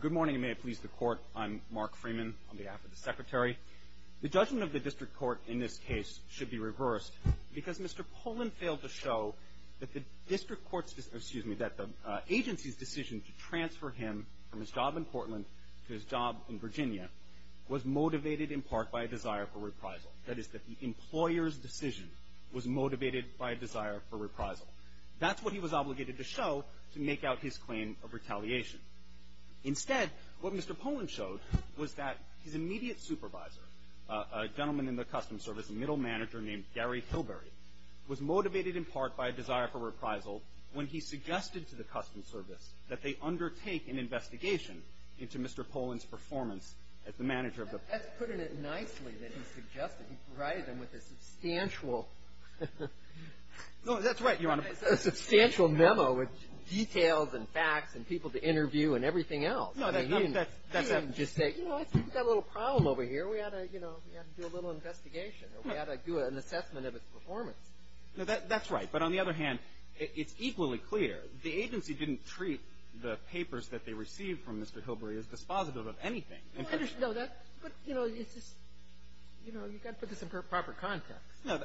Good morning, and may it please the Court. I'm Mark Freeman on behalf of the Secretary. The judgment of the District Court in this case should be reversed because Mr. Poland failed to show that the agency's decision to transfer him from his job in Portland to his job in Virginia was motivated in part by a desire for reprisal. That is, that the employer's decision was motivated by a desire for reprisal. That's what he was obligated to show to make out his claim of retaliation. Instead, what Mr. Poland showed was that his immediate supervisor, a gentleman in the Customs Service, a middle manager named Gary Hilberry, was motivated in part by a desire for reprisal when he suggested to the Customs Service that they undertake an investigation into Mr. Poland's performance as the manager of the – That's putting it nicely that he suggested. He provided them with a substantial – No, that's right, Your Honor. A substantial memo with details and facts and people to interview and everything else. No, that's – He didn't just say, you know, I think we've got a little problem over here. We've got to, you know, we've got to do a little investigation, or we've got to do an assessment of his performance. No, that's right. But on the other hand, it's equally clear the agency didn't treat the papers that they received from Mr. Hilberry as dispositive of anything. No, that's – but, you know, it's just – you know, you've got to put this in proper context. No,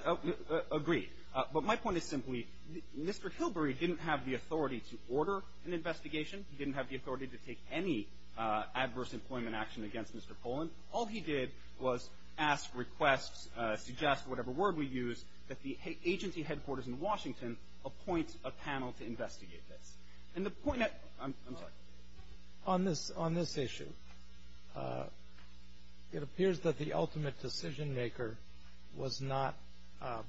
agreed. But my point is simply, Mr. Hilberry didn't have the authority to order an investigation. He didn't have the authority to take any adverse employment action against Mr. Poland. All he did was ask requests, suggest, whatever word we use, that the agency headquarters in Washington appoint a panel to investigate this. And the point that – I'm sorry. On this issue, it appears that the ultimate decision-maker was not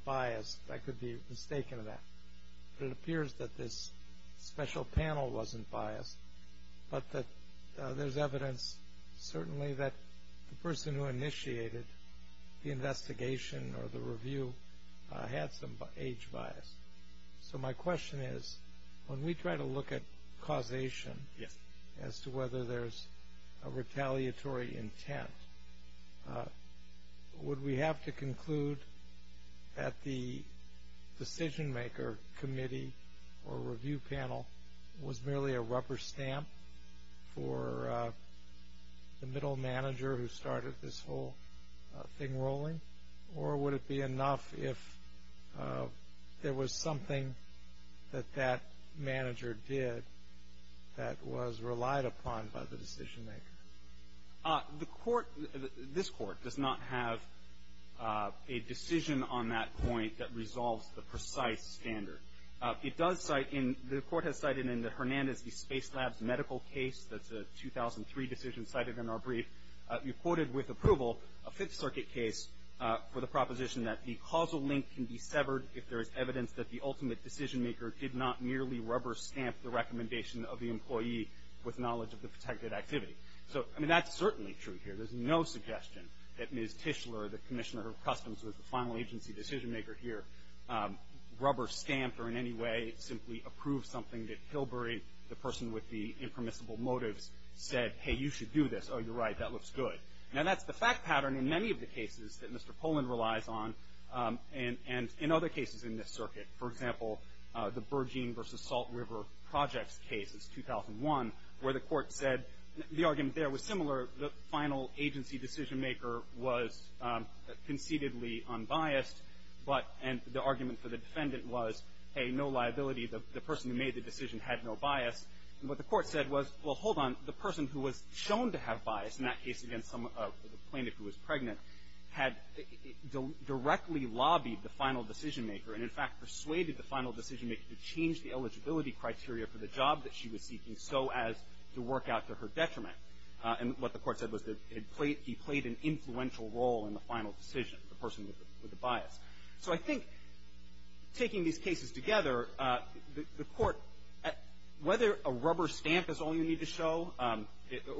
biased. I could be mistaken of that. But it appears that this special panel wasn't biased, but that there's evidence, certainly, that the person who initiated the investigation or the review had some age bias. So my question is, when we try to look at causation – Yes. – as to whether there's a retaliatory intent, would we have to conclude that the decision-maker committee or review panel was merely a rubber stamp for the middle manager who started this whole thing rolling? Or would it be enough if there was something that that manager did that was relied upon by the decision-maker? The court – this court does not have a decision on that point that resolves the precise standard. It does cite in – the court has cited in the Hernandez v. Space Labs medical case – that's a 2003 decision cited in our brief – reported with approval a Fifth Circuit case for the proposition that the causal link can be the ultimate decision-maker did not merely rubber-stamp the recommendation of the employee with knowledge of the protected activity. So, I mean, that's certainly true here. There's no suggestion that Ms. Tischler, the Commissioner of Customs who was the final agency decision-maker here, rubber-stamped or in any way simply approved something that Kilbury, the person with the impermissible motives, said, hey, you should do this. Oh, you're right. That looks good. Now, that's the fact pattern in many of the cases that Mr. Poland relies on. And in other cases in this circuit, for example, the Bergeen v. Salt River Projects case, it's 2001, where the court said – the argument there was similar. The final agency decision-maker was concededly unbiased, but – and the argument for the defendant was, hey, no liability. The person who made the decision had no bias. And what the court said was, well, hold on. The person who was shown to have bias in that case against some – the plaintiff who was directly lobbied the final decision-maker and, in fact, persuaded the final decision-maker to change the eligibility criteria for the job that she was seeking so as to work out to her detriment. And what the court said was that he played an influential role in the final decision, the person with the bias. So I think taking these cases together, the court – whether a rubber stamp is all you need to show, or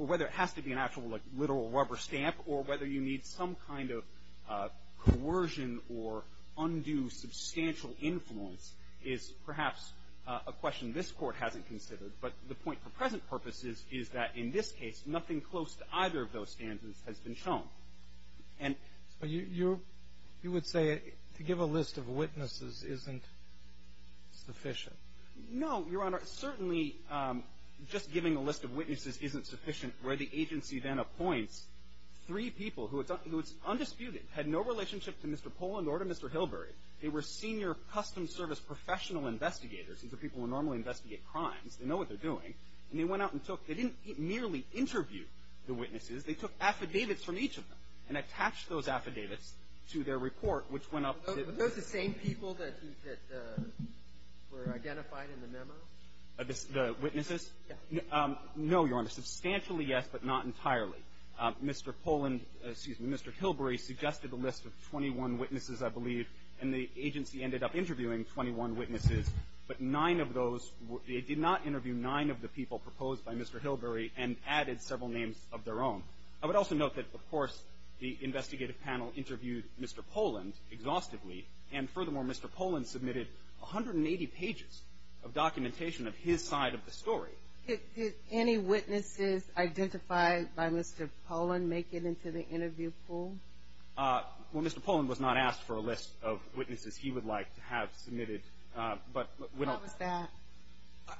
whether it has to be an actual, like, literal rubber stamp, or whether you need some kind of coercion or undue substantial influence is perhaps a question this Court hasn't considered. But the point for present purposes is that, in this case, nothing close to either of those standards has been shown. And – But you – you would say to give a list of witnesses isn't sufficient. No, Your Honor. Certainly, just giving a list of witnesses isn't sufficient. Where the agency then appoints three people who it's – who it's undisputed, had no relationship to Mr. Pollan nor to Mr. Hilberry. They were senior Customs Service professional investigators. These are people who normally investigate crimes. They know what they're doing. And they went out and took – they didn't merely interview the witnesses. They took affidavits from each of them and attached those affidavits to their report, which went up to – Were those the same people that – that were identified in the memo? The witnesses? No, Your Honor. Substantially, yes, but not entirely. Mr. Pollan – excuse me. Mr. Hilberry suggested a list of 21 witnesses, I believe. And the agency ended up interviewing 21 witnesses. But nine of those – it did not interview nine of the people proposed by Mr. Hilberry and added several names of their own. I would also note that, of course, the investigative panel interviewed Mr. Pollan exhaustively. And furthermore, Mr. Pollan submitted 180 pages of documentation of his side of the story. Did any witnesses identified by Mr. Pollan make it into the interview pool? Well, Mr. Pollan was not asked for a list of witnesses he would like to have submitted. But we don't – How was that?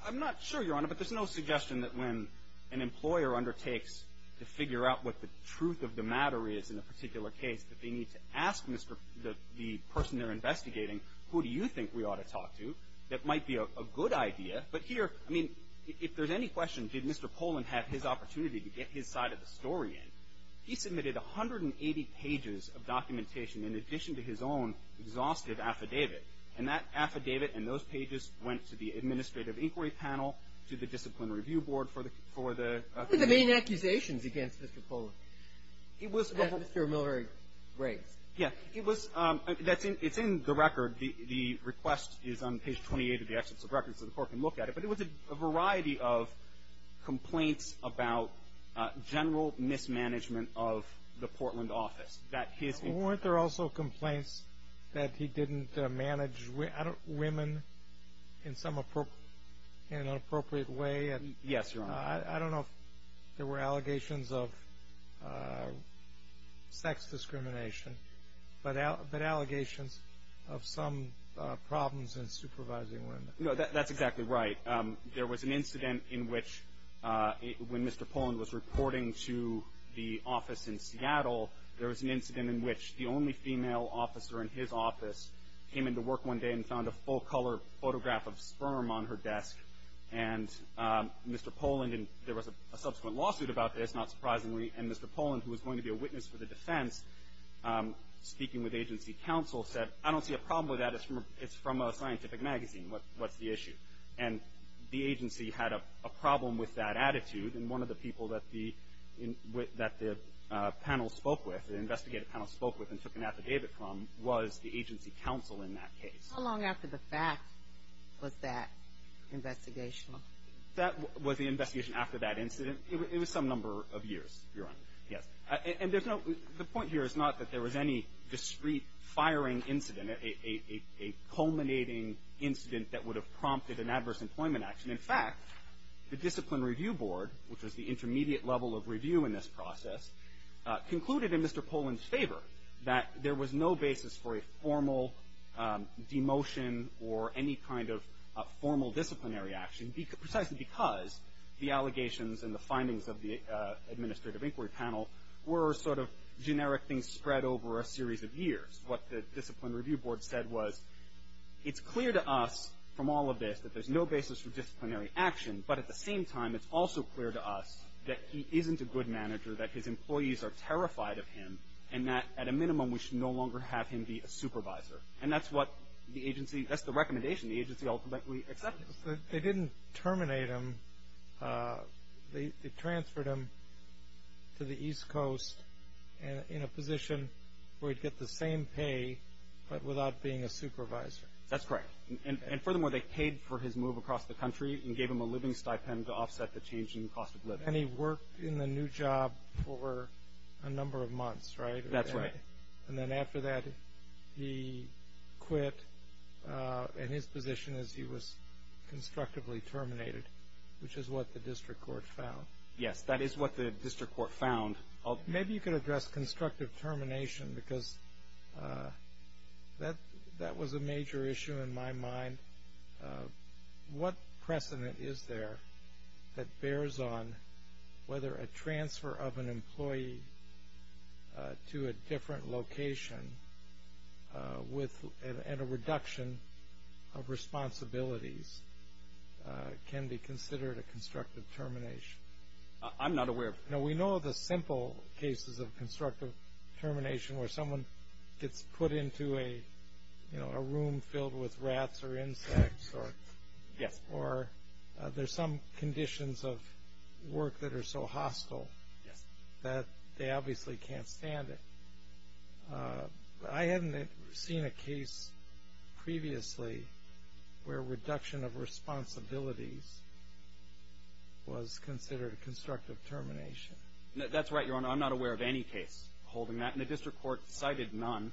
I'm not sure, Your Honor, but there's no suggestion that when an employer undertakes to figure out what the truth of the matter is in a particular case, that they need to ask Mr. – the person they're investigating, who do you think we ought to talk to? That might be a good idea. But here – I mean, if there's any question, did Mr. Pollan have his opportunity to get his side of the story in? He submitted 180 pages of documentation in addition to his own exhaustive affidavit. And that affidavit and those pages went to the administrative inquiry panel, to the disciplinary review board for the – What were the main accusations against Mr. Pollan? It was – That Mr. Miller raised. Yeah. It was – that's in – it's in the record. The request is on page 28 of the Excellence of Records, so the Court can look at it. But it was a variety of complaints about general mismanagement of the Portland office. That his – Weren't there also complaints that he didn't manage women in some – in an appropriate way? Yes, Your Honor. I don't know if there were allegations of sex discrimination, but allegations of some problems in supervising women. No, that's exactly right. There was an incident in which, when Mr. Pollan was reporting to the office in Seattle, there was an incident in which the only female officer in his office came into work one day and found a full-color photograph of sperm on her desk. And Mr. Pollan – and there was a subsequent lawsuit about this, not surprisingly, and Mr. Pollan, who was going to be a witness for the defense, speaking with agency counsel, said, I don't see a problem with that. It's from a scientific magazine. What's the issue? And the agency had a problem with that attitude. And one of the people that the – that the panel spoke with, the investigative panel spoke with and took an affidavit from, was the agency counsel in that case. How long after the fact was that investigational? That was the investigation after that incident. It was some number of years, Your Honor. Yes. And there's no – the point here is not that there was any discrete firing incident, a culminating incident that would have prompted an adverse employment action. In fact, the Discipline Review Board, which was the intermediate level of review in this process, concluded in Mr. Pollan's favor that there was no basis for a formal demotion or any kind of formal disciplinary action, precisely because the allegations and the findings of the administrative inquiry panel were sort of generic things spread over a series of years. What the Discipline Review Board said was, it's clear to us from all of this that there's no basis for disciplinary action, but at the same time, it's also clear to us that he isn't a good manager, that his employees are terrified of him, and that, at a minimum, we should no longer have him be a supervisor. And that's what the agency – that's the recommendation the agency ultimately accepted. They didn't terminate him. They transferred him to the East Coast in a position where he'd get the same pay, but without being a supervisor. That's correct. And furthermore, they paid for his move across the country and gave him a living stipend to offset the change in cost of living. And he worked in the new job for a number of months, right? That's right. And then after that, he quit. And his position is he was constructively terminated, which is what the district court found. Yes, that is what the district court found. Maybe you could address constructive termination, because that was a major issue in my mind. But what precedent is there that bears on whether a transfer of an employee to a different location with – and a reduction of responsibilities can be considered a constructive termination? I'm not aware of – No, we know the simple cases of constructive termination, where someone gets put into a room filled with rats or insects, or there's some conditions of work that are so hostile that they obviously can't stand it. I haven't seen a case previously where reduction of responsibilities was considered a constructive termination. That's right, Your Honor. I'm not aware of any case holding that. The district court cited none.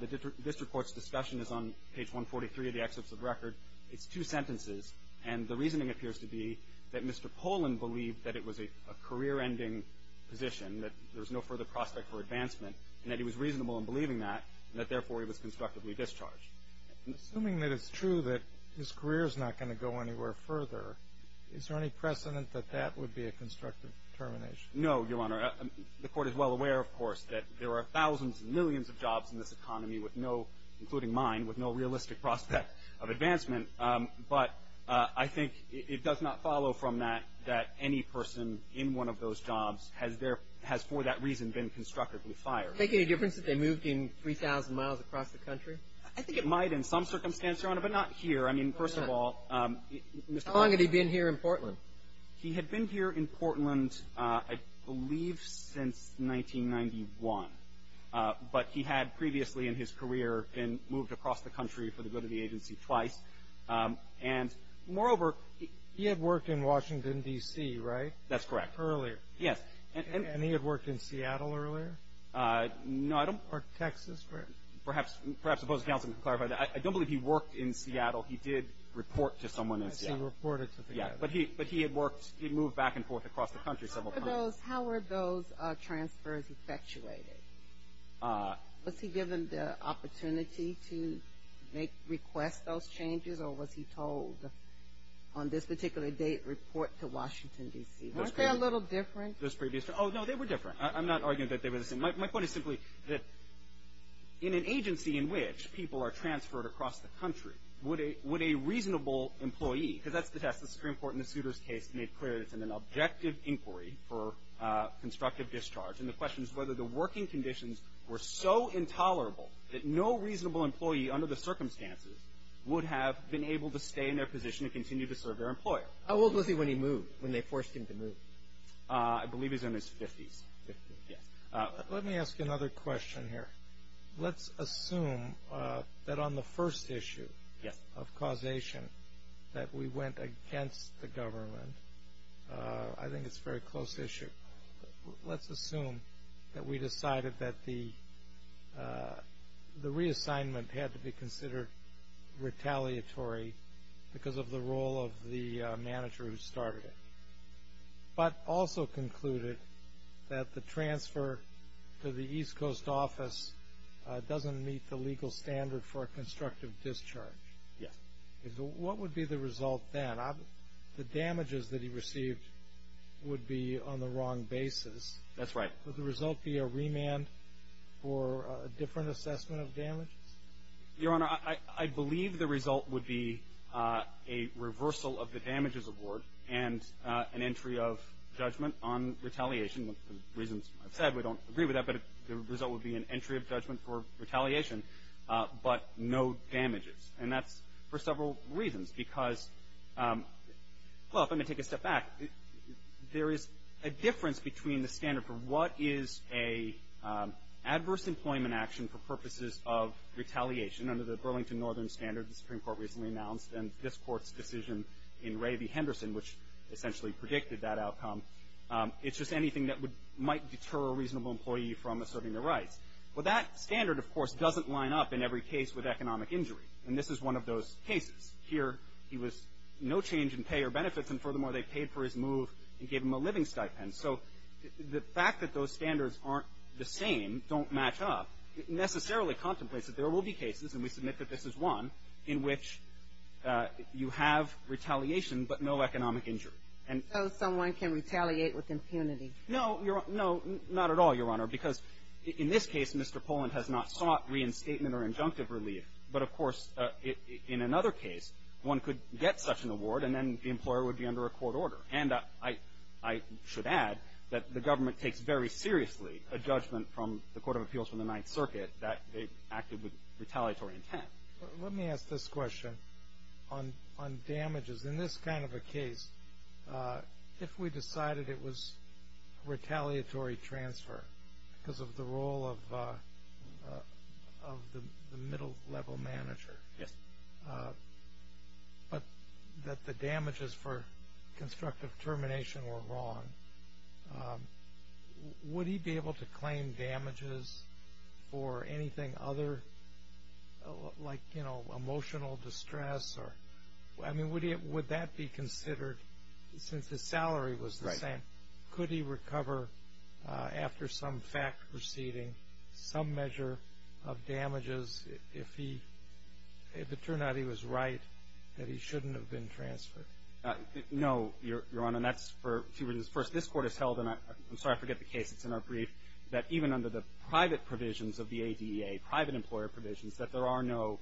The district court's discussion is on page 143 of the excerpts of record. It's two sentences, and the reasoning appears to be that Mr. Poland believed that it was a career-ending position, that there was no further prospect for advancement, and that he was reasonable in believing that, and that therefore he was constructively discharged. Assuming that it's true that his career is not going to go anywhere further, is there any precedent that that would be a constructive termination? No, Your Honor. The Court is well aware, of course, that there are thousands and millions of jobs in this economy with no, including mine, with no realistic prospect of advancement. But I think it does not follow from that that any person in one of those jobs has for that reason been constructively fired. Would it make any difference if they moved in 3,000 miles across the country? I think it might in some circumstance, Your Honor, but not here. I mean, first of all, Mr. Poland… How long had he been here in Portland? He had been here in Portland, I believe, since 1991. But he had previously in his career been moved across the country for the good of the agency twice. And moreover… He had worked in Washington, D.C., right? That's correct. Earlier. Yes. And he had worked in Seattle earlier? No, I don't… Or Texas? Perhaps the opposing counsel can clarify that. I don't believe he worked in Seattle. He did report to someone in Seattle. He reported to Seattle. But he had moved back and forth across the country several times. How were those transfers effectuated? Was he given the opportunity to request those changes, or was he told on this particular date, report to Washington, D.C.? Weren't they a little different? Those previous… Oh, no, they were different. I'm not arguing that they were the same. My point is simply that in an agency in which people are transferred across the country, would a reasonable employee… Because that's the test. The Supreme Court in the Souter's case made clear that it's an objective inquiry for constructive discharge. And the question is whether the working conditions were so intolerable that no reasonable employee under the circumstances would have been able to stay in their position and continue to serve their employer. How old was he when he moved, when they forced him to move? I believe he was in his 50s. Let me ask you another question here. Let's assume that on the first issue of causation that we went against the government. I think it's a very close issue. Let's assume that we decided that the reassignment had to be considered retaliatory because of the role of the manager who started it, but also concluded that the transfer to the East Coast office doesn't meet the legal standard for a constructive discharge. Yes. What would be the result then? The damages that he received would be on the wrong basis. That's right. Would the result be a remand for a different assessment of damages? Your Honor, I believe the result would be a reversal of the damages award and an entry of judgment on retaliation. The reasons I've said, we don't agree with that, but the result would be an entry of judgment for retaliation, but no damages. And that's for several reasons. Because, well, if I may take a step back, there is a difference between the standard for what is a adverse employment action for purposes of retaliation under the Burlington Northern Standard the Supreme Court recently announced, and this Court's decision in Ray v. Henderson, which essentially predicted that outcome, it's just anything that might deter a reasonable employee from asserting their rights. Well, that standard, of course, doesn't line up in every case with economic injury. And this is one of those cases. Here, he was no change in pay or benefits, and furthermore, they paid for his move and gave him a living stipend. So the fact that those standards aren't the same, don't match up, necessarily contemplates that there will be cases, and we submit that this is one, in which you have retaliation but no economic injury. And so someone can retaliate with impunity. No, Your Honor. No, not at all, Your Honor. Because in this case, Mr. Poland has not sought reinstatement or injunctive relief. But, of course, in another case, one could get such an award, and then the employer would be under a court order. And I should add that the government takes very seriously a judgment from the Court of Appeals from the Ninth Circuit that they acted with retaliatory intent. Let me ask this question on damages. In this kind of a case, if we decided it was a retaliatory transfer because of the role of the middle-level manager, but that the damages for constructive termination were wrong, would he be able to claim damages for anything other, like, you know, emotional distress? Or, I mean, would that be considered, since the salary was the same, could he recover after some fact proceeding, some measure of damages, if it turned out he was right, that he shouldn't have been transferred? No, Your Honor. And that's for two reasons. First, this Court has held, and I'm sorry, I forget the case. It's in our brief, that even under the private provisions of the ADEA, private employer provisions, that there are no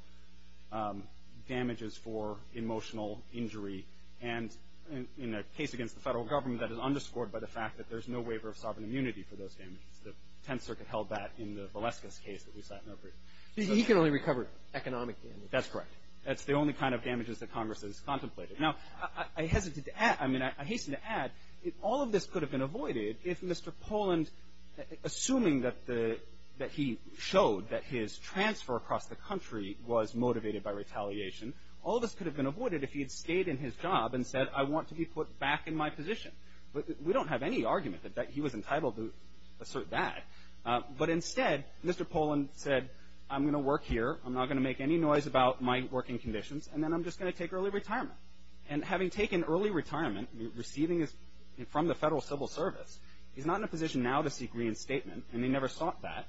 damages for emotional injury. And in a case against the Federal Government, that is underscored by the fact that there's no waiver of sovereign immunity for those damages. The Tenth Circuit held that in the Valeska's case that we sat in our brief. He can only recover economic damages. That's correct. That's the only kind of damages that Congress has contemplated. Now, I hesitate to add, I mean, I hasten to add, all of this could have been avoided if Mr. Poland, assuming that he showed that his transfer across the country was motivated by retaliation, all of this could have been avoided if he had stayed in his job and said, I want to be put back in my position. But we don't have any argument that he was entitled to assert that. But instead, Mr. Poland said, I'm going to work here. I'm not going to make any noise about my working conditions. And then I'm just going to take early retirement. And having taken early retirement, receiving from the Federal Civil Service, he's not in a position now to seek reinstatement. And he never sought that.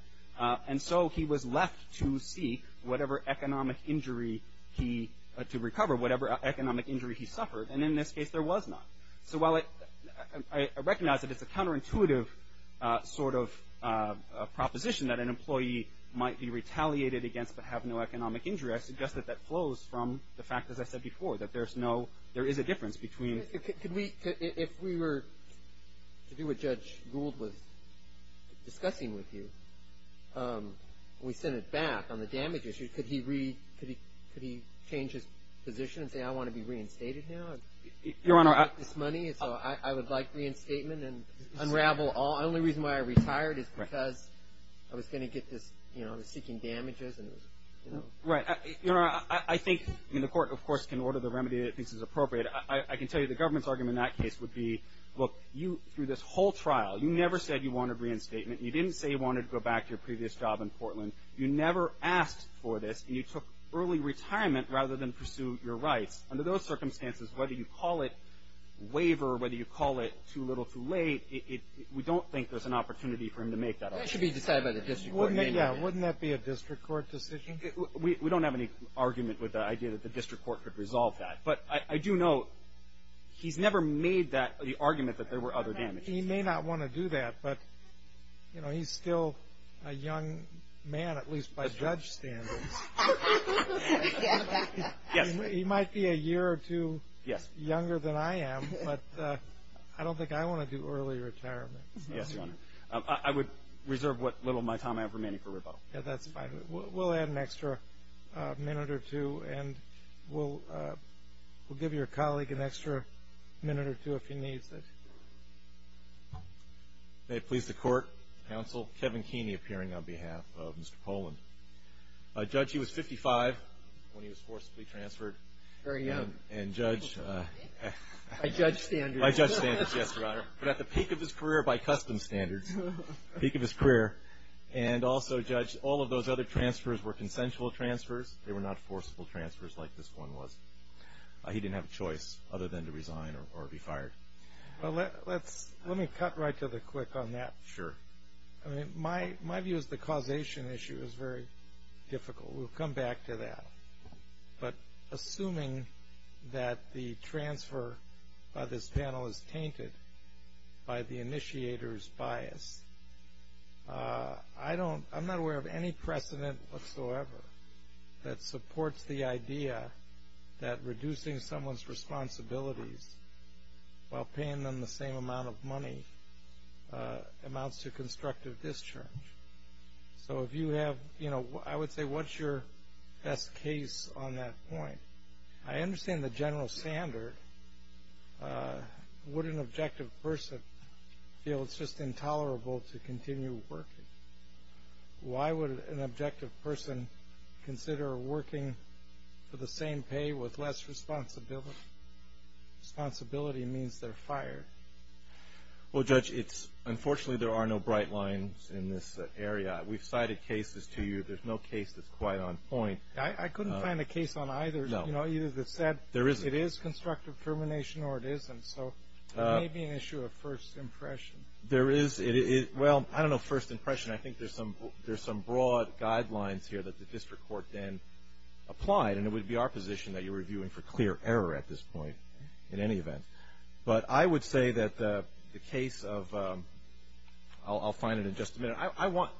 And so he was left to seek whatever economic injury he, to recover, whatever economic injury he suffered. And in this case, there was not. So while I recognize that it's a counterintuitive sort of proposition that an employee might be retaliated against but have no economic injury, I suggest that that flows from the fact, as I said before, that there's no, there is a difference between. Could we, if we were to do what Judge Gould was discussing with you, we send it back on the damage issue, could he read, could he, could he change his position and say, I want to be reinstated now? Your Honor, I, I would like reinstatement and unravel all, the only reason why I retired is because I was going to get this, you know, I was seeking damages and, you know. Right. Your Honor, I, I think, I mean, the court, of course, can order the remedy that it thinks is appropriate. I, I, I can tell you the government's argument in that case would be, look, you, through this whole trial, you never said you wanted reinstatement. You didn't say you wanted to go back to your previous job in Portland. You never asked for this. And you took early retirement rather than pursue your rights. Under those circumstances, whether you call it waiver or whether you call it too little, too late, it, it, we don't think there's an opportunity for him to make that offer. That should be decided by the district court. Yeah, wouldn't that be a district court decision? We, we don't have any argument with the idea that the district court could resolve that. But I, I do know he's never made that, the argument that there were other damages. He may not want to do that, but, you know, he's still a young man, at least by judge standards. Yes. He might be a year or two younger than I am, but I don't think I want to do early retirement. Yes, Your Honor. I would reserve what little of my time I have remaining for rebuttal. Yeah, that's fine. We'll, we'll add an extra minute or two, and we'll, we'll give your colleague an extra minute or two if he needs it. May it please the court, counsel, Kevin Keeney appearing on behalf of Mr. Poland. Judge, he was 55 when he was forcibly transferred. Very young. And judge. By judge standards. By judge standards, yes, Your Honor. But at the peak of his career by custom standards, peak of his career, and also, judge, all of those other transfers were consensual transfers. They were not forcible transfers like this one was. He didn't have a choice other than to resign or, or be fired. Well, let, let's, let me cut right to the quick on that. Sure. I mean, my, my view is the causation issue is very difficult. We'll come back to that. But assuming that the transfer by this panel is tainted by the initiator's bias. I don't, I'm not aware of any precedent whatsoever that supports the idea that reducing someone's responsibilities while paying them the same amount of money amounts to constructive discharge. So if you have, you know, I would say what's your best case on that point? I understand the general standard. Would an objective person feel it's just intolerable to continue working? Why would an objective person consider working for the same pay with less responsibility? Responsibility means they're fired. Well, Judge, it's, unfortunately there are no bright lines in this area. We've cited cases to you. There's no case that's quite on point. I, I couldn't find a case on either. No. You know, either the set. There isn't. It is constructive termination or it isn't. So, it may be an issue of first impression. There is, it, it, well, I don't know, first impression. I think there's some, there's some broad guidelines here that the district court then applied, and it would be our position that you're reviewing for clear error at this point, in any event. But I would say that the, the case of I'll, I'll find it in just a minute. I, I want,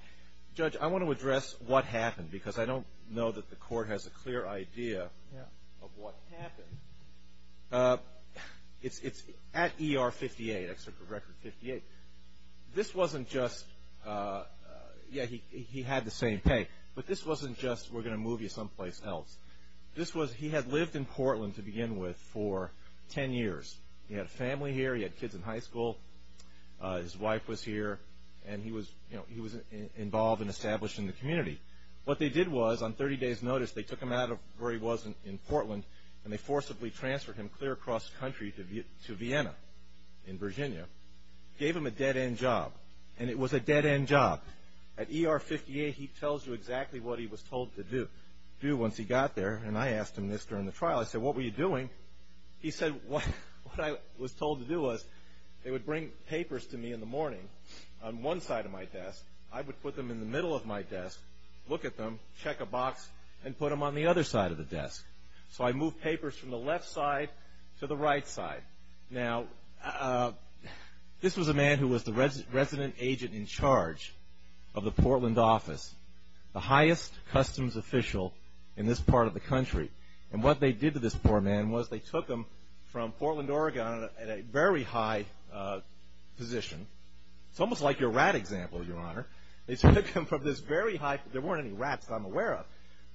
Judge, I want to address what happened, because I don't know that the court has a clear idea of what happened. It's, it's at ER 58, excerpt from record 58. This wasn't just yeah, he, he had the same pay. But this wasn't just we're going to move you someplace else. This was, he had lived in Portland to begin with for ten years. He had a family here. He had kids in high school. His wife was here. And he was, you know, he was involved and established in the community. What they did was, on 30 days notice, they took him out of where he was in, in Portland, and they forcibly transferred him clear across the country to Vie, to Vienna, in Virginia. Gave him a dead end job. And it was a dead end job. At ER 58, he tells you exactly what he was told to do, do once he got there. And I asked him this during the trial. I said, what were you doing? He said, what, what I was told to do was, they would bring papers to me in the morning, on one side of my desk. I would put them in the middle of my desk, look at them, check a box, and put them on the other side of the desk. So I moved papers from the left side to the right side. Now, this was a man who was the resident agent in charge of the Portland office. The highest customs official in this part of the country. And what they did to this poor man was, they took him from Portland, Oregon, at a very high position. It's almost like your rat example, Your Honor. They took him from this very high, there weren't any rats that I'm aware of.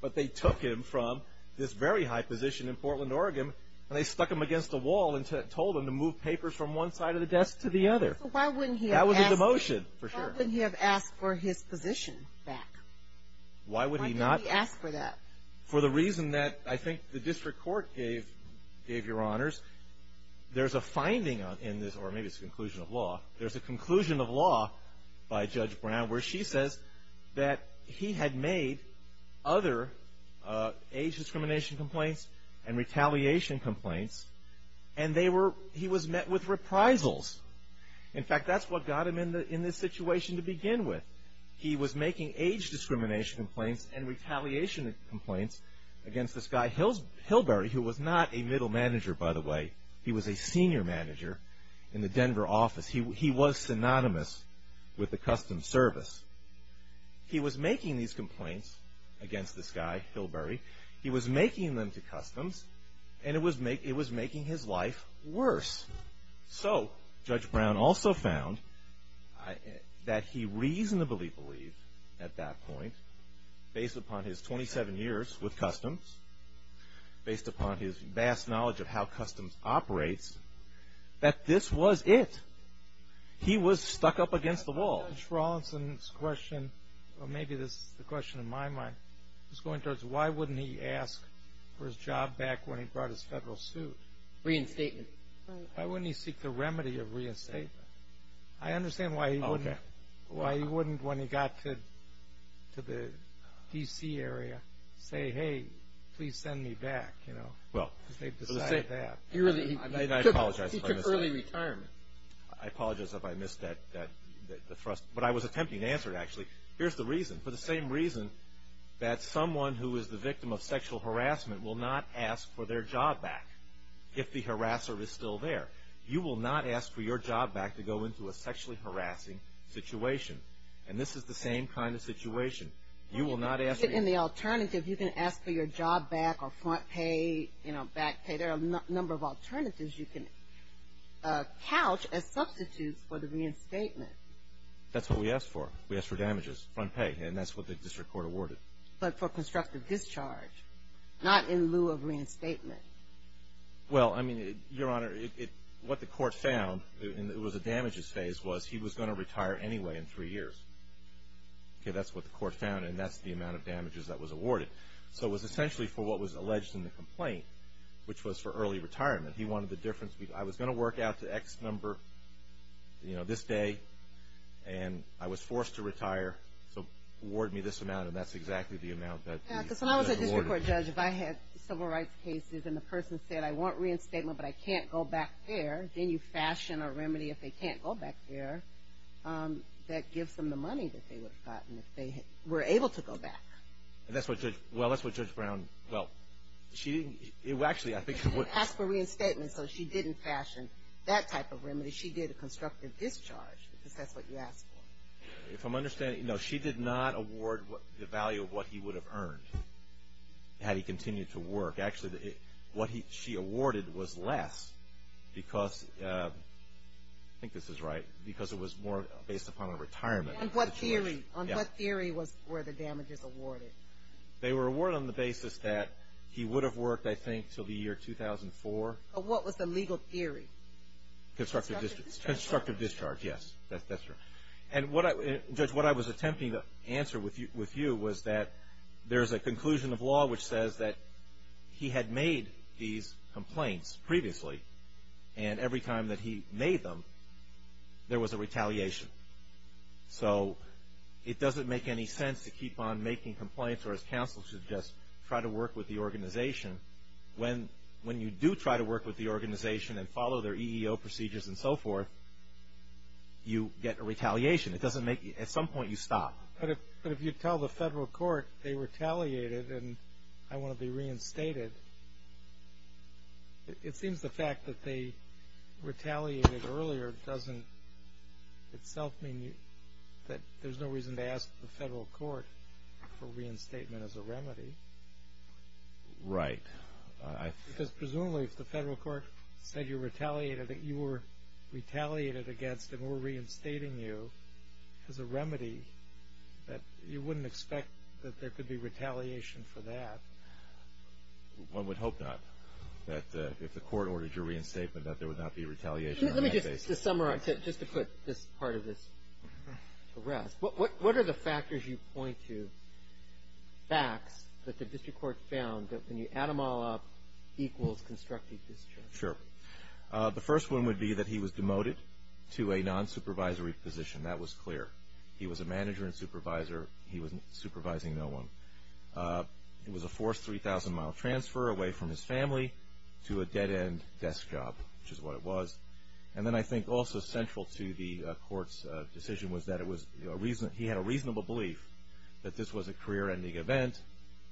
But they took him from this very high position in Portland, Oregon, and they stuck him against a wall and told him to move papers from one side of the desk to the other. So why wouldn't he have asked- That was a demotion, for sure. Why wouldn't he have asked for his position back? Why would he not- Why didn't he ask for that? For the reason that, I think, the district court gave, gave, Your Honors. There's a finding in this, or maybe it's a conclusion of law. There's a conclusion of law by Judge Brown where she says that he had made other age discrimination complaints and retaliation complaints. And they were, he was met with reprisals. In fact, that's what got him in the, in this situation to begin with. He was making age discrimination complaints and retaliation complaints against this guy Hills, Hilberry, who was not a middle manager, by the way. He was a senior manager in the Denver office. He was synonymous with the customs service. He was making these complaints against this guy, Hilberry. He was making them to customs, and it was making his life worse. So, Judge Brown also found that he reasonably believed, at that point, based upon his 27 years with customs, based upon his vast knowledge of how customs operates, that this was it. He was stuck up against the wall. Judge Rawlinson's question, or maybe this is the question in my mind, is going towards why wouldn't he ask for his job back when he brought his federal suit? Reinstatement. Why wouldn't he seek the remedy of reinstatement? I understand why he wouldn't- Okay. Why he wouldn't, when he got to the D.C. area, say, hey, please send me back, you know? Well- Because they'd decide that. He really, he took early retirement. I apologize if I missed that, the thrust. But I was attempting to answer it, actually. Here's the reason. For the same reason that someone who is the victim of sexual harassment will not ask for their job back, if the harasser is still there. You will not ask for your job back to go into a sexually harassing situation. And this is the same kind of situation. You will not ask- In the alternative, you can ask for your job back or front pay, you know, back pay. There are a number of alternatives you can couch as substitutes for the reinstatement. That's what we asked for. We asked for damages, front pay, and that's what the district court awarded. But for constructive discharge, not in lieu of reinstatement. Well, I mean, Your Honor, what the court found, and it was a damages phase, was he was going to retire anyway in three years. Okay, that's what the court found, and that's the amount of damages that was awarded. So it was essentially for what was alleged in the complaint, which was for early retirement. He wanted the difference, I was going to work out the X number, you know, this day, and I was forced to retire. So award me this amount, and that's exactly the amount that was awarded. Yeah, because when I was a district court judge, if I had civil rights cases and the person said, I want reinstatement, but I can't go back there, then you fashion a remedy if they can't go back there that gives them the money that they would have gotten if they were able to go back. And that's what Judge, well, that's what Judge Brown, well, she didn't, well, actually, I think she wouldn't. As for reinstatement, so she didn't fashion that type of remedy. She did a constructive discharge, because that's what you asked for. If I'm understanding, no, she did not award the value of what he would have earned had he continued to work. Actually, what she awarded was less because, I think this is right, because it was more based upon a retirement. On what theory, on what theory were the damages awarded? They were awarded on the basis that he would have worked, I think, till the year 2004. But what was the legal theory? Constructive discharge, yes, that's true. And Judge, what I was attempting to answer with you was that there's a conclusion of law which says that he had made these complaints previously. And every time that he made them, there was a retaliation. So it doesn't make any sense to keep on making complaints or, as counsel suggests, try to work with the organization. When you do try to work with the organization and follow their EEO procedures and so forth, you get a retaliation. It doesn't make, at some point, you stop. But if you tell the federal court they retaliated and I want to be reinstated, it seems the fact that they retaliated earlier doesn't itself mean that there's no reason to ask the federal court for reinstatement as a remedy. Right. Because presumably if the federal court said you retaliated, that you were retaliated against and we're reinstating you as a remedy, that you wouldn't expect that there could be retaliation for that. One would hope not, that if the court ordered your reinstatement, that there would not be retaliation on that basis. Let me just summarize, just to put this part of this to rest. What are the factors you point to, facts, that the district court found, that when you add them all up, equals constructive discharge? Sure. The first one would be that he was demoted to a non-supervisory position. That was clear. He was a manager and supervisor. He was supervising no one. It was a forced 3,000 mile transfer away from his family to a dead end desk job, which is what it was. And then I think also central to the court's decision was that it was a reason, he had a reasonable belief that this was a career ending event.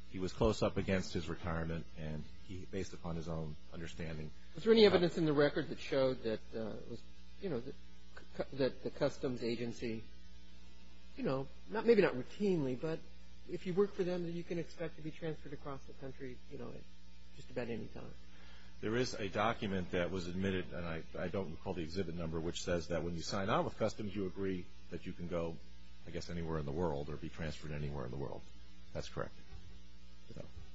He was close up against his retirement and he, based upon his own understanding. Is there any evidence in the record that showed that, you know, that the customs agency, you know, maybe not routinely, but if you work for them, then you can expect to be transferred across the country, you know, at just about any time? There is a document that was admitted, and I don't recall the exhibit number, which says that when you sign out with customs, you agree that you can go, I guess, anywhere in the world or be transferred anywhere in the world. That's correct.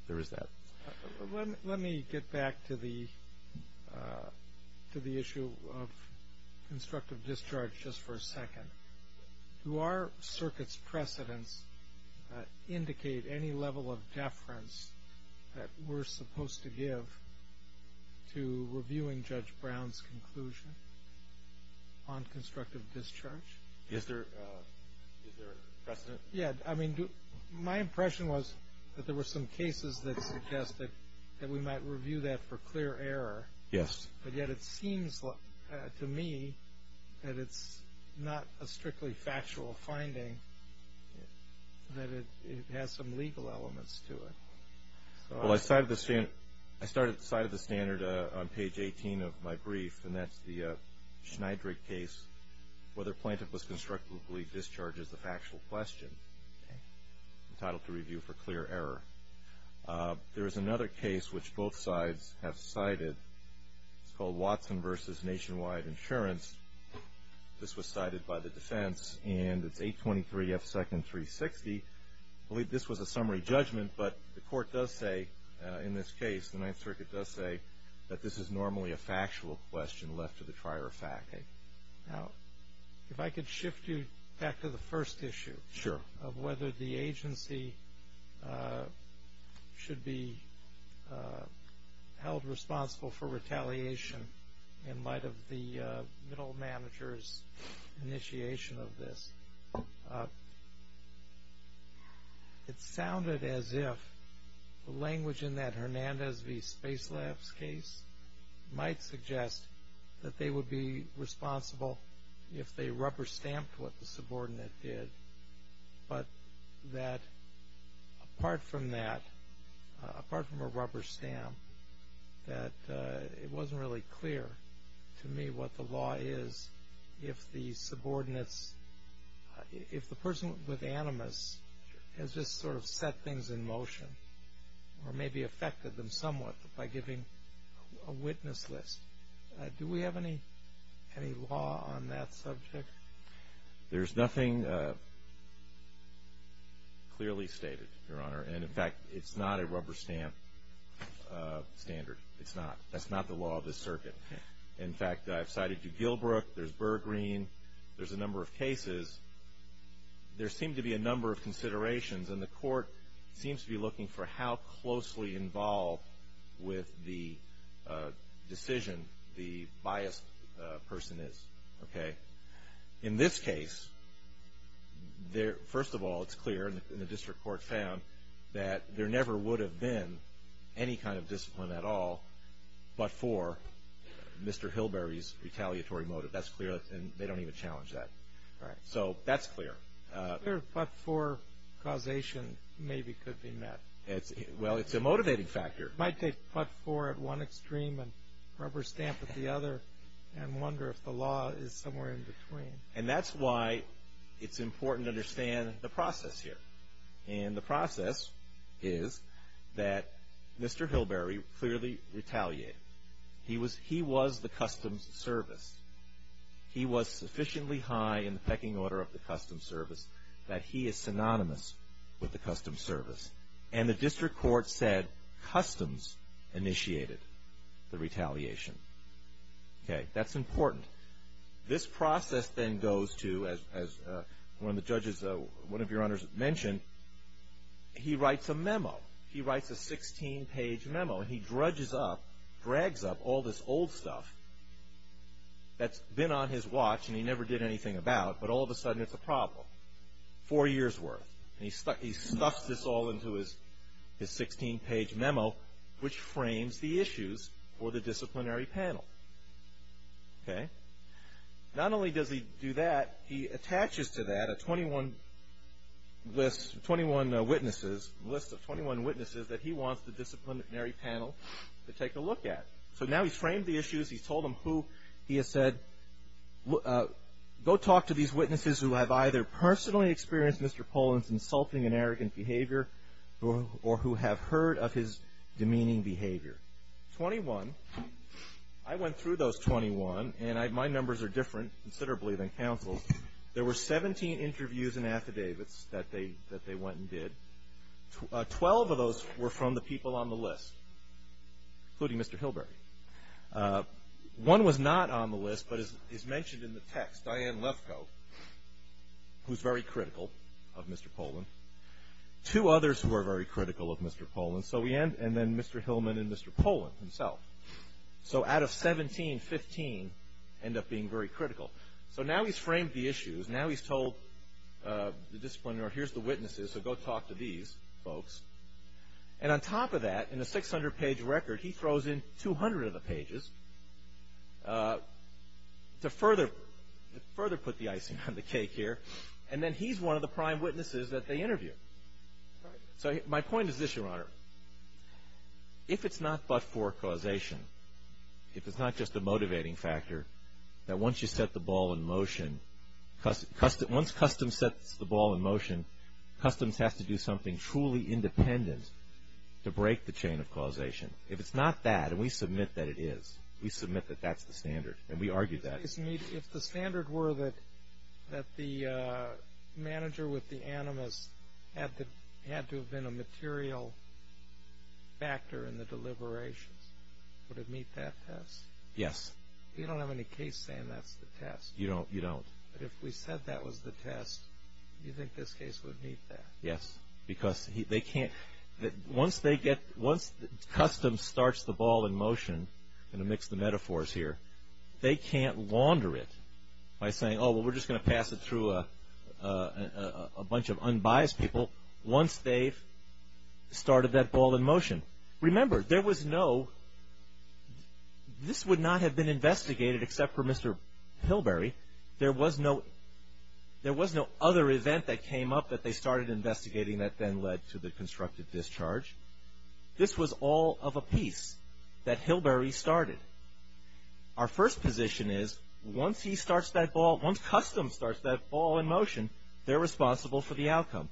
There is that. Let me get back to the issue of constructive discharge just for a second. Do our circuit's precedents indicate any level of deference that we're supposed to give to reviewing Judge Brown's conclusion on constructive discharge? Is there a precedent? Yeah, I mean, my impression was that there were some cases that suggested that we might review that for clear error. Yes. But yet, it seems to me that it's not a strictly factual finding, that it has some legal elements to it. Well, I started the side of the standard on page 18 of my brief, and that's the Schneidrig case, whether plaintiff was constructively discharged as a factual question, entitled to review for clear error. There is another case which both sides have cited. It's called Watson versus Nationwide Insurance. This was cited by the defense, and it's 823 F. Second 360. I believe this was a summary judgment, but the court does say, in this case, the Ninth Circuit does say that this is normally a factual question left to the prior fact. Now, if I could shift you back to the first issue. Sure. Of whether the agency should be held responsible for retaliation in light of the middle manager's initiation of this. It sounded as if the language in that Hernandez v. Spacelabs case might suggest that they would be responsible if they rubber stamped what the subordinate did, but that apart from that, apart from a rubber stamp, that it wasn't really clear to me what the law is if the subordinates, if the person with animus has just sort of set things in motion, or maybe affected them somewhat by giving a witness list. Do we have any law on that subject? There's nothing clearly stated, your honor. And in fact, it's not a rubber stamp standard. It's not. That's not the law of this circuit. In fact, I've cited you, Gilbrook, there's Burgreen, there's a number of cases. There seem to be a number of considerations, and the court seems to be looking for how closely involved with the decision the biased person is, okay? In this case, first of all, it's clear, and the district court found, that there never would have been any kind of discipline at all, but for Mr. Hilberry's retaliatory motive. That's clear, and they don't even challenge that. Right. So that's clear. It's clear, but for causation, maybe could be met. Well, it's a motivating factor. Might take but for at one extreme, and rubber stamp at the other, and wonder if the law is somewhere in between. And that's why it's important to understand the process here. And the process is that Mr. Hilberry clearly retaliated. He was the customs service. He was sufficiently high in the pecking order of the customs service that he is synonymous with the customs service. And the district court said customs initiated the retaliation. Okay, that's important. This process then goes to, as one of the judges, one of your honors mentioned, he writes a memo. He writes a 16 page memo, and he dredges up, drags up all this old stuff that's been on his watch, and he never did anything about, but all of a sudden it's a problem. Four years worth, and he stuffs this all into his 16 page memo, which frames the issues for the disciplinary panel, okay? Not only does he do that, he attaches to that a 21 list, 21 witnesses, list of 21 witnesses that he wants the disciplinary panel to take a look at. So now he's framed the issues, he's told them who he has said, go talk to these witnesses who have either personally experienced Mr. Pollan's insulting and arrogant behavior, or who have heard of his demeaning behavior. 21, I went through those 21, and my numbers are different considerably than counsel's. There were 17 interviews and affidavits that they went and did. 12 of those were from the people on the list, including Mr. Hilberry. One was not on the list, but is mentioned in the text, Diane Lefkoe, who's very critical of Mr. Pollan. Two others who are very critical of Mr. Pollan, and then Mr. Hillman and Mr. Pollan himself. So out of 17, 15 end up being very critical. So now he's framed the issues, now he's told the disciplinary, here's the witnesses, so go talk to these folks. And on top of that, in a 600-page record, he throws in 200 of the pages to further put the icing on the cake here. And then he's one of the prime witnesses that they interview. So my point is this, Your Honor. If it's not but for causation, if it's not just a motivating factor, that once you set the ball in motion, once customs sets the ball in motion, customs has to do something truly independent to break the chain of causation. If it's not that, and we submit that it is, we submit that that's the standard, and we argue that. If the standard were that the manager with the animus had to have been a material factor in the deliberations, would it meet that test? Yes. You don't have any case saying that's the test. You don't, you don't. But if we said that was the test, do you think this case would meet that? Yes. Because they can't, once they get, once customs starts the ball in motion, going to mix the metaphors here, they can't wander it by saying, oh, well, we're just going to pass it through a bunch of unbiased people once they've started that ball in motion. Remember, there was no, this would not have been investigated except for Mr. Hilberry, there was no other event that came up that they started investigating that then led to the constructive discharge. This was all of a piece that Hilberry started. Our first position is, once he starts that ball, once customs starts that ball in motion, they're responsible for the outcome.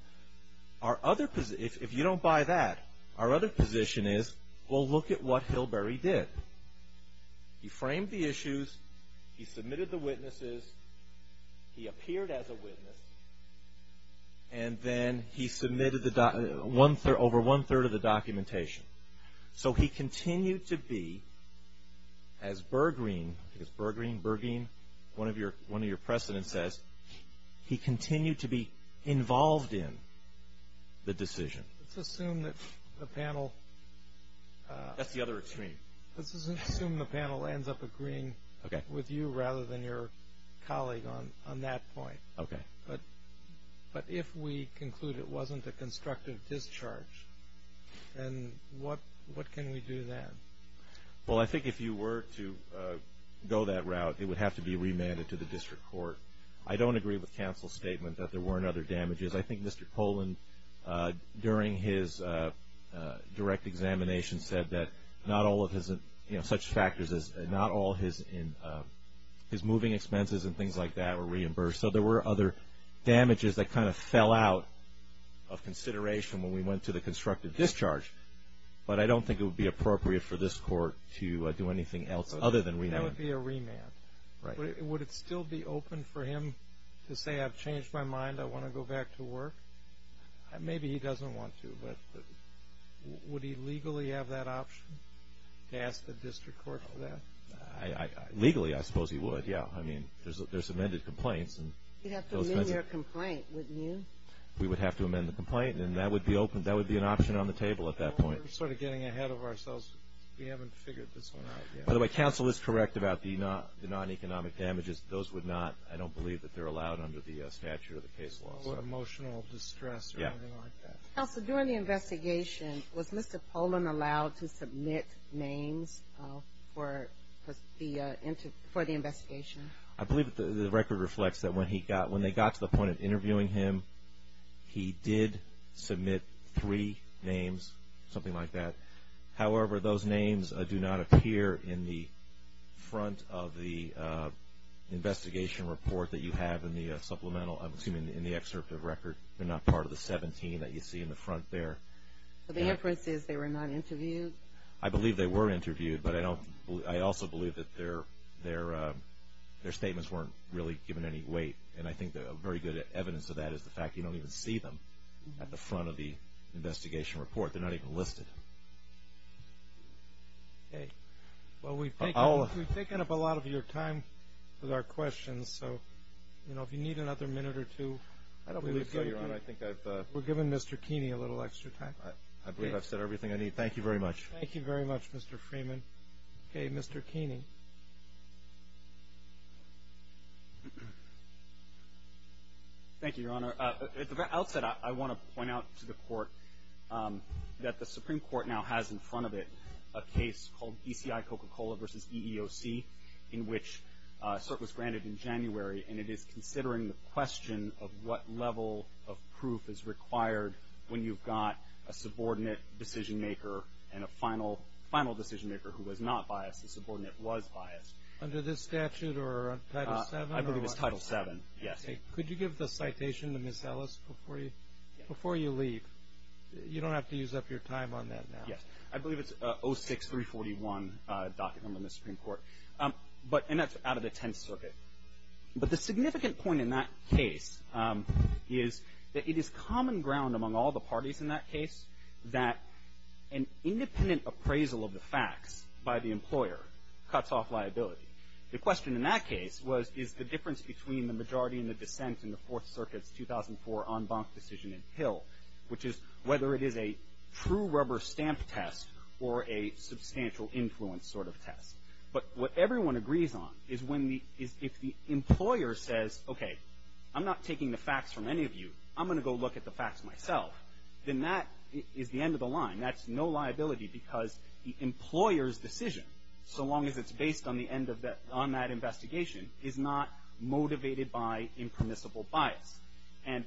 Our other, if you don't buy that, our other position is, well, look at what Hilberry did. He framed the issues, he submitted the witnesses, he appeared as a witness, and then he submitted the, one third, over one third of the documentation. So he continued to be, as Berggruen, is Berggruen, Berggruen, one of your, one of your precedents says, he continued to be involved in the decision. Let's assume that the panel. That's the other extreme. Let's assume the panel ends up agreeing with you rather than your colleague on that point. Okay. But if we conclude it wasn't a constructive discharge, then what can we do then? Well, I think if you were to go that route, it would have to be remanded to the district court. I don't agree with counsel's statement that there weren't other damages. I think Mr. Poland, during his direct examination, said that not all of his, you know, such factors as, not all his moving expenses and things like that were reimbursed. So there were other damages that kind of fell out of consideration when we went to the constructive discharge. But I don't think it would be appropriate for this court to do anything else other than remand. That would be a remand. Right. Would it still be open for him to say, I've changed my mind, I want to go back to work? Maybe he doesn't want to, but would he legally have that option to ask the district court for that? Legally, I suppose he would, yeah. I mean, there's amended complaints. You'd have to amend your complaint, wouldn't you? We would have to amend the complaint, and that would be an option on the table at that point. We're sort of getting ahead of ourselves. We haven't figured this one out yet. By the way, counsel is correct about the non-economic damages. Those would not, I don't believe that they're allowed under the statute of the case law. Emotional distress or anything like that. Counsel, during the investigation, was Mr. Polan allowed to submit names for the investigation? I believe the record reflects that when they got to the point of interviewing him, he did submit three names, something like that. However, those names do not appear in the front of the investigation report that you have in the supplemental, I'm assuming in the excerpt of the record. They're not part of the 17 that you see in the front there. The inference is they were not interviewed? I believe they were interviewed, but I also believe that their statements weren't really given any weight, and I think a very good evidence of that is the fact you don't even see them at the front of the investigation report. They're not even listed. Okay. Well, we've taken up a lot of your time with our questions, so, you know, if you need another minute or two, we're giving Mr. Keeney a little extra time. I believe I've said everything I need. Thank you very much. Thank you very much, Mr. Freeman. Thank you, Your Honor. At the very outset, I want to point out to the Court that the Supreme Court now has in front of it a case called DCI Coca-Cola versus EEOC, in which cert was granted in January, and it is considering the question of what level of proof is required when you've got a subordinate decision-maker and a final decision-maker who was not biased. The subordinate was biased. Under this statute or Title VII? I believe it's Title VII, yes. Could you give the citation to Ms. Ellis before you leave? You don't have to use up your time on that now. Yes. I believe it's 06341 docket number in the Supreme Court, and that's out of the Tenth Circuit. But the significant point in that case is that it is common ground among all the parties in that case that an independent appraisal of the facts by the employer cuts off liability. The question in that case was, is the difference between the majority and the dissent in the Fourth Circuit's 2004 en banc decision in Hill, which is whether it is a true rubber stamp test or a substantial influence sort of test. But what everyone agrees on is when the, is if the employer says, okay, I'm not taking the facts from any of you, I'm going to go look at the facts myself, then that is the end of the line. That's no liability because the employer's decision, so long as it's based on the end of that, on that investigation, is not motivated by impermissible bias. And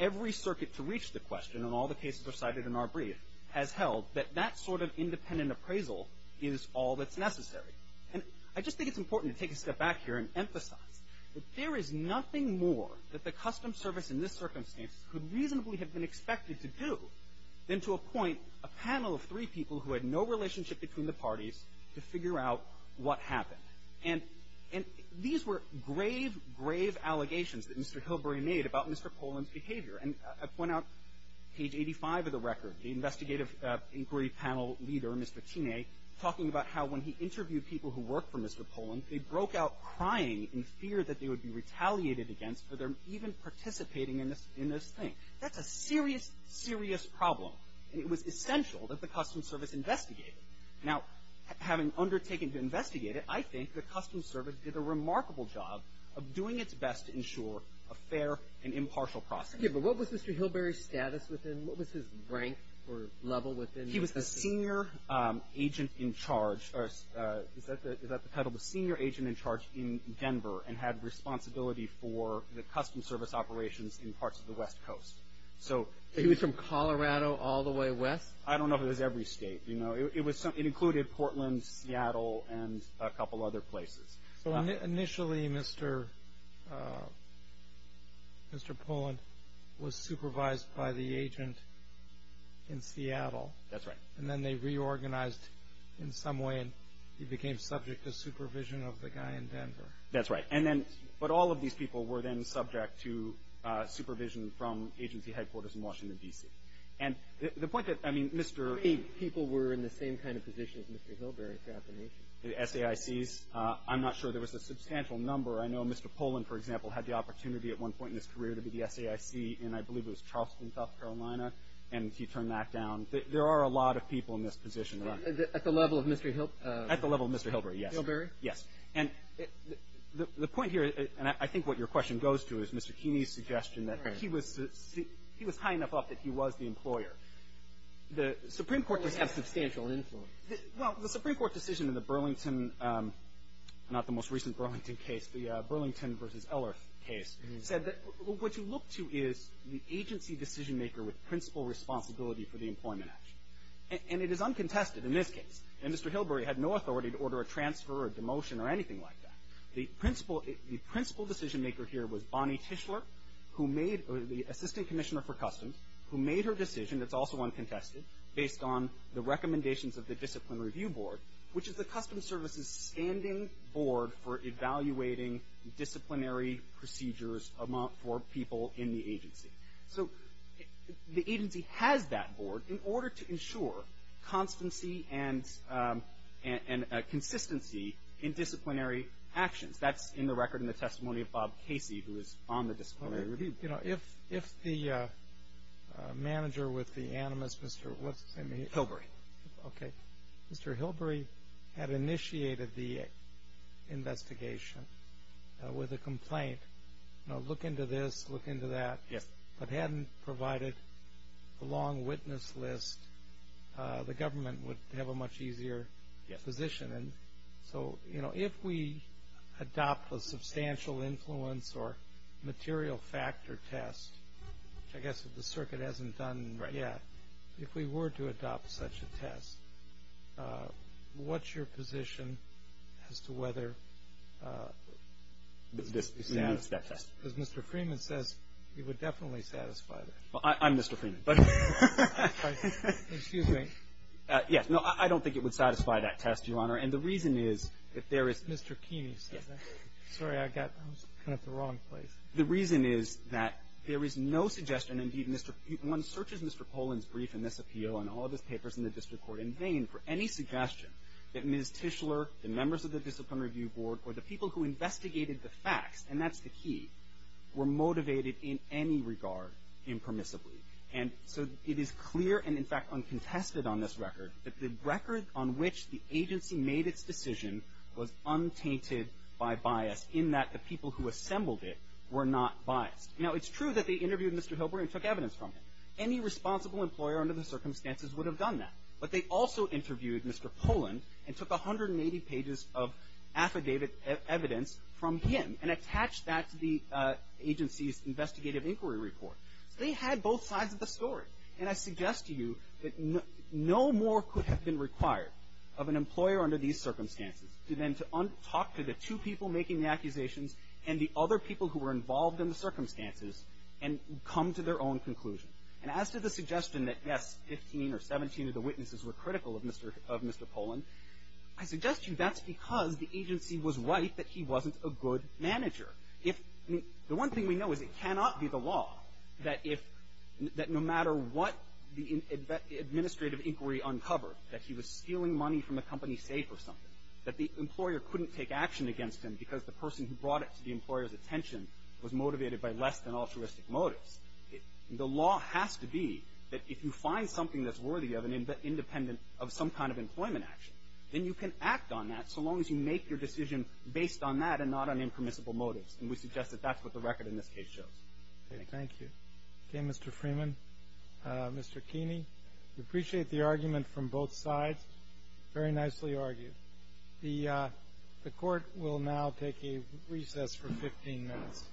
every circuit to reach the question, and all the cases are cited in our brief, has held that that sort of independent appraisal is all that's necessary. And I just think it's important to take a step back here and emphasize that there is nothing more that the Customs Service in this circumstance could reasonably have been expected to do than to appoint a panel of three people who had no relationship between the parties to figure out what happened. And, and these were grave, grave allegations that Mr. Hillbery made about Mr. Poland's behavior. And I point out page 85 of the record, the investigative inquiry panel leader, Mr. Tine, talking about how when he interviewed people who worked for Mr. Poland, they broke out crying in fear that they would be retaliated against for their even participating in this, in this thing. That's a serious, serious problem. And it was essential that the Customs Service investigate it. Now, having undertaken to investigate it, I think the Customs Service did a remarkable job of doing its best to ensure a fair and impartial process. Yeah, but what was Mr. Hillbery's status within, what was his rank or level within the system? He was the senior agent in charge, or is that the, is that the title, the senior agent in charge in Denver, and had responsibility for the Customs Service operations in parts of the West Coast. So. He was from Colorado all the way west? I don't know if it was every state. You know, it was, it included Portland, Seattle, and a couple other places. So initially, Mr. Mr. Poland was supervised by the agent in Seattle. That's right. And then they reorganized in some way, and he became subject to supervision of the guy in Denver. That's right. And then, but all of these people were then subject to supervision from agency headquarters in Washington, D.C. And the point that, I mean, Mr. Eight people were in the same kind of position as Mr. Hillbery throughout the nation. The SAICs? I'm not sure. There was a substantial number. I know Mr. Poland, for example, had the opportunity at one point in his career to be the SAIC, and I believe it was Charleston, South Carolina, and he turned that down. There are a lot of people in this position, right? At the level of Mr. At the level of Mr. Hillbery, yes. Hillbery? Yes. And the point here, and I think what your question goes to, is Mr. Keeney's suggestion that he was high enough up that he was the employer. The Supreme Court just had substantial influence. Well, the Supreme Court decision in the Burlington, not the most recent Burlington case, the Burlington v. Ellerth case, said that what you look to is the agency decision-maker with principal responsibility for the employment action, and it is uncontested in this case. And Mr. Hillbery had no authority to order a transfer or a demotion or anything like that. The principal decision-maker here was Bonnie Tischler, the Assistant Commissioner for Customs, who made her decision, that's also uncontested, based on the recommendations of the Discipline Review Board, which is the Customs Service's standing board for evaluating disciplinary procedures for people in the agency. So the agency has that board in order to ensure constancy and consistency in disciplinary actions. That's in the record in the testimony of Bob Casey, who is on the Disciplinary Review Board. You know, if the manager with the animus, Mr. what's his name again? Hillbery. Okay. Mr. Hillbery had initiated the investigation with a complaint, you know, look into this, look into that. But hadn't provided a long witness list, the government would have a much easier position. And so, you know, if we adopt a substantial influence or material factor test, I guess if the circuit hasn't done yet, if we were to adopt such a test, what's your position as to whether this would satisfy that test? Because Mr. Freeman says it would definitely satisfy that. Well, I'm Mr. Freeman. Excuse me. Yes. No, I don't think it would satisfy that test, Your Honor. And the reason is, if there is Mr. Keeney said that. Sorry, I got kind of the wrong place. The reason is that there is no suggestion, indeed, Mr. one searches Mr. Poland's brief in this appeal and all of his papers in the district court in vain for any suggestion that Ms. Tischler, the members of the Discipline Review Board or the people who investigated the facts, and that's the key, were motivated in any regard impermissibly. And so, it is clear and in fact uncontested on this record that the record on which the agency made its decision was untainted by bias in that the people who assembled it were not biased. Now, it's true that they interviewed Mr. Hillbery and took evidence from him. Any responsible employer under the circumstances would have done that. But they also interviewed Mr. Poland and took 180 pages of affidavit evidence from him and attached that to the agency's investigative inquiry report. They had both sides of the story. And I suggest to you that no more could have been required of an employer under these circumstances than to talk to the two people making the accusations and the other people who were involved in the circumstances and come to their own conclusion. And as to the suggestion that, yes, 15 or 17 of the witnesses were critical of Mr. Poland, I suggest to you that's because the agency was right that he wasn't a good manager. If, I mean, the one thing we know is it cannot be the law that if, that no matter what the administrative inquiry uncovered, that he was stealing money from a company safe or something, that the employer couldn't take action against him because the person who brought it to the employer's attention was motivated by less than altruistic motives. The law has to be that if you find something that's worthy of an independent of some kind of employment action, then you can act on that so long as you make your decision based on that and not on impermissible motives. And we suggest that that's what the record in this case shows. Thank you. Okay, Mr. Freeman. Mr. Keeney, we appreciate the argument from both sides. Very nicely argued. The Court will now take a recess for 15 minutes.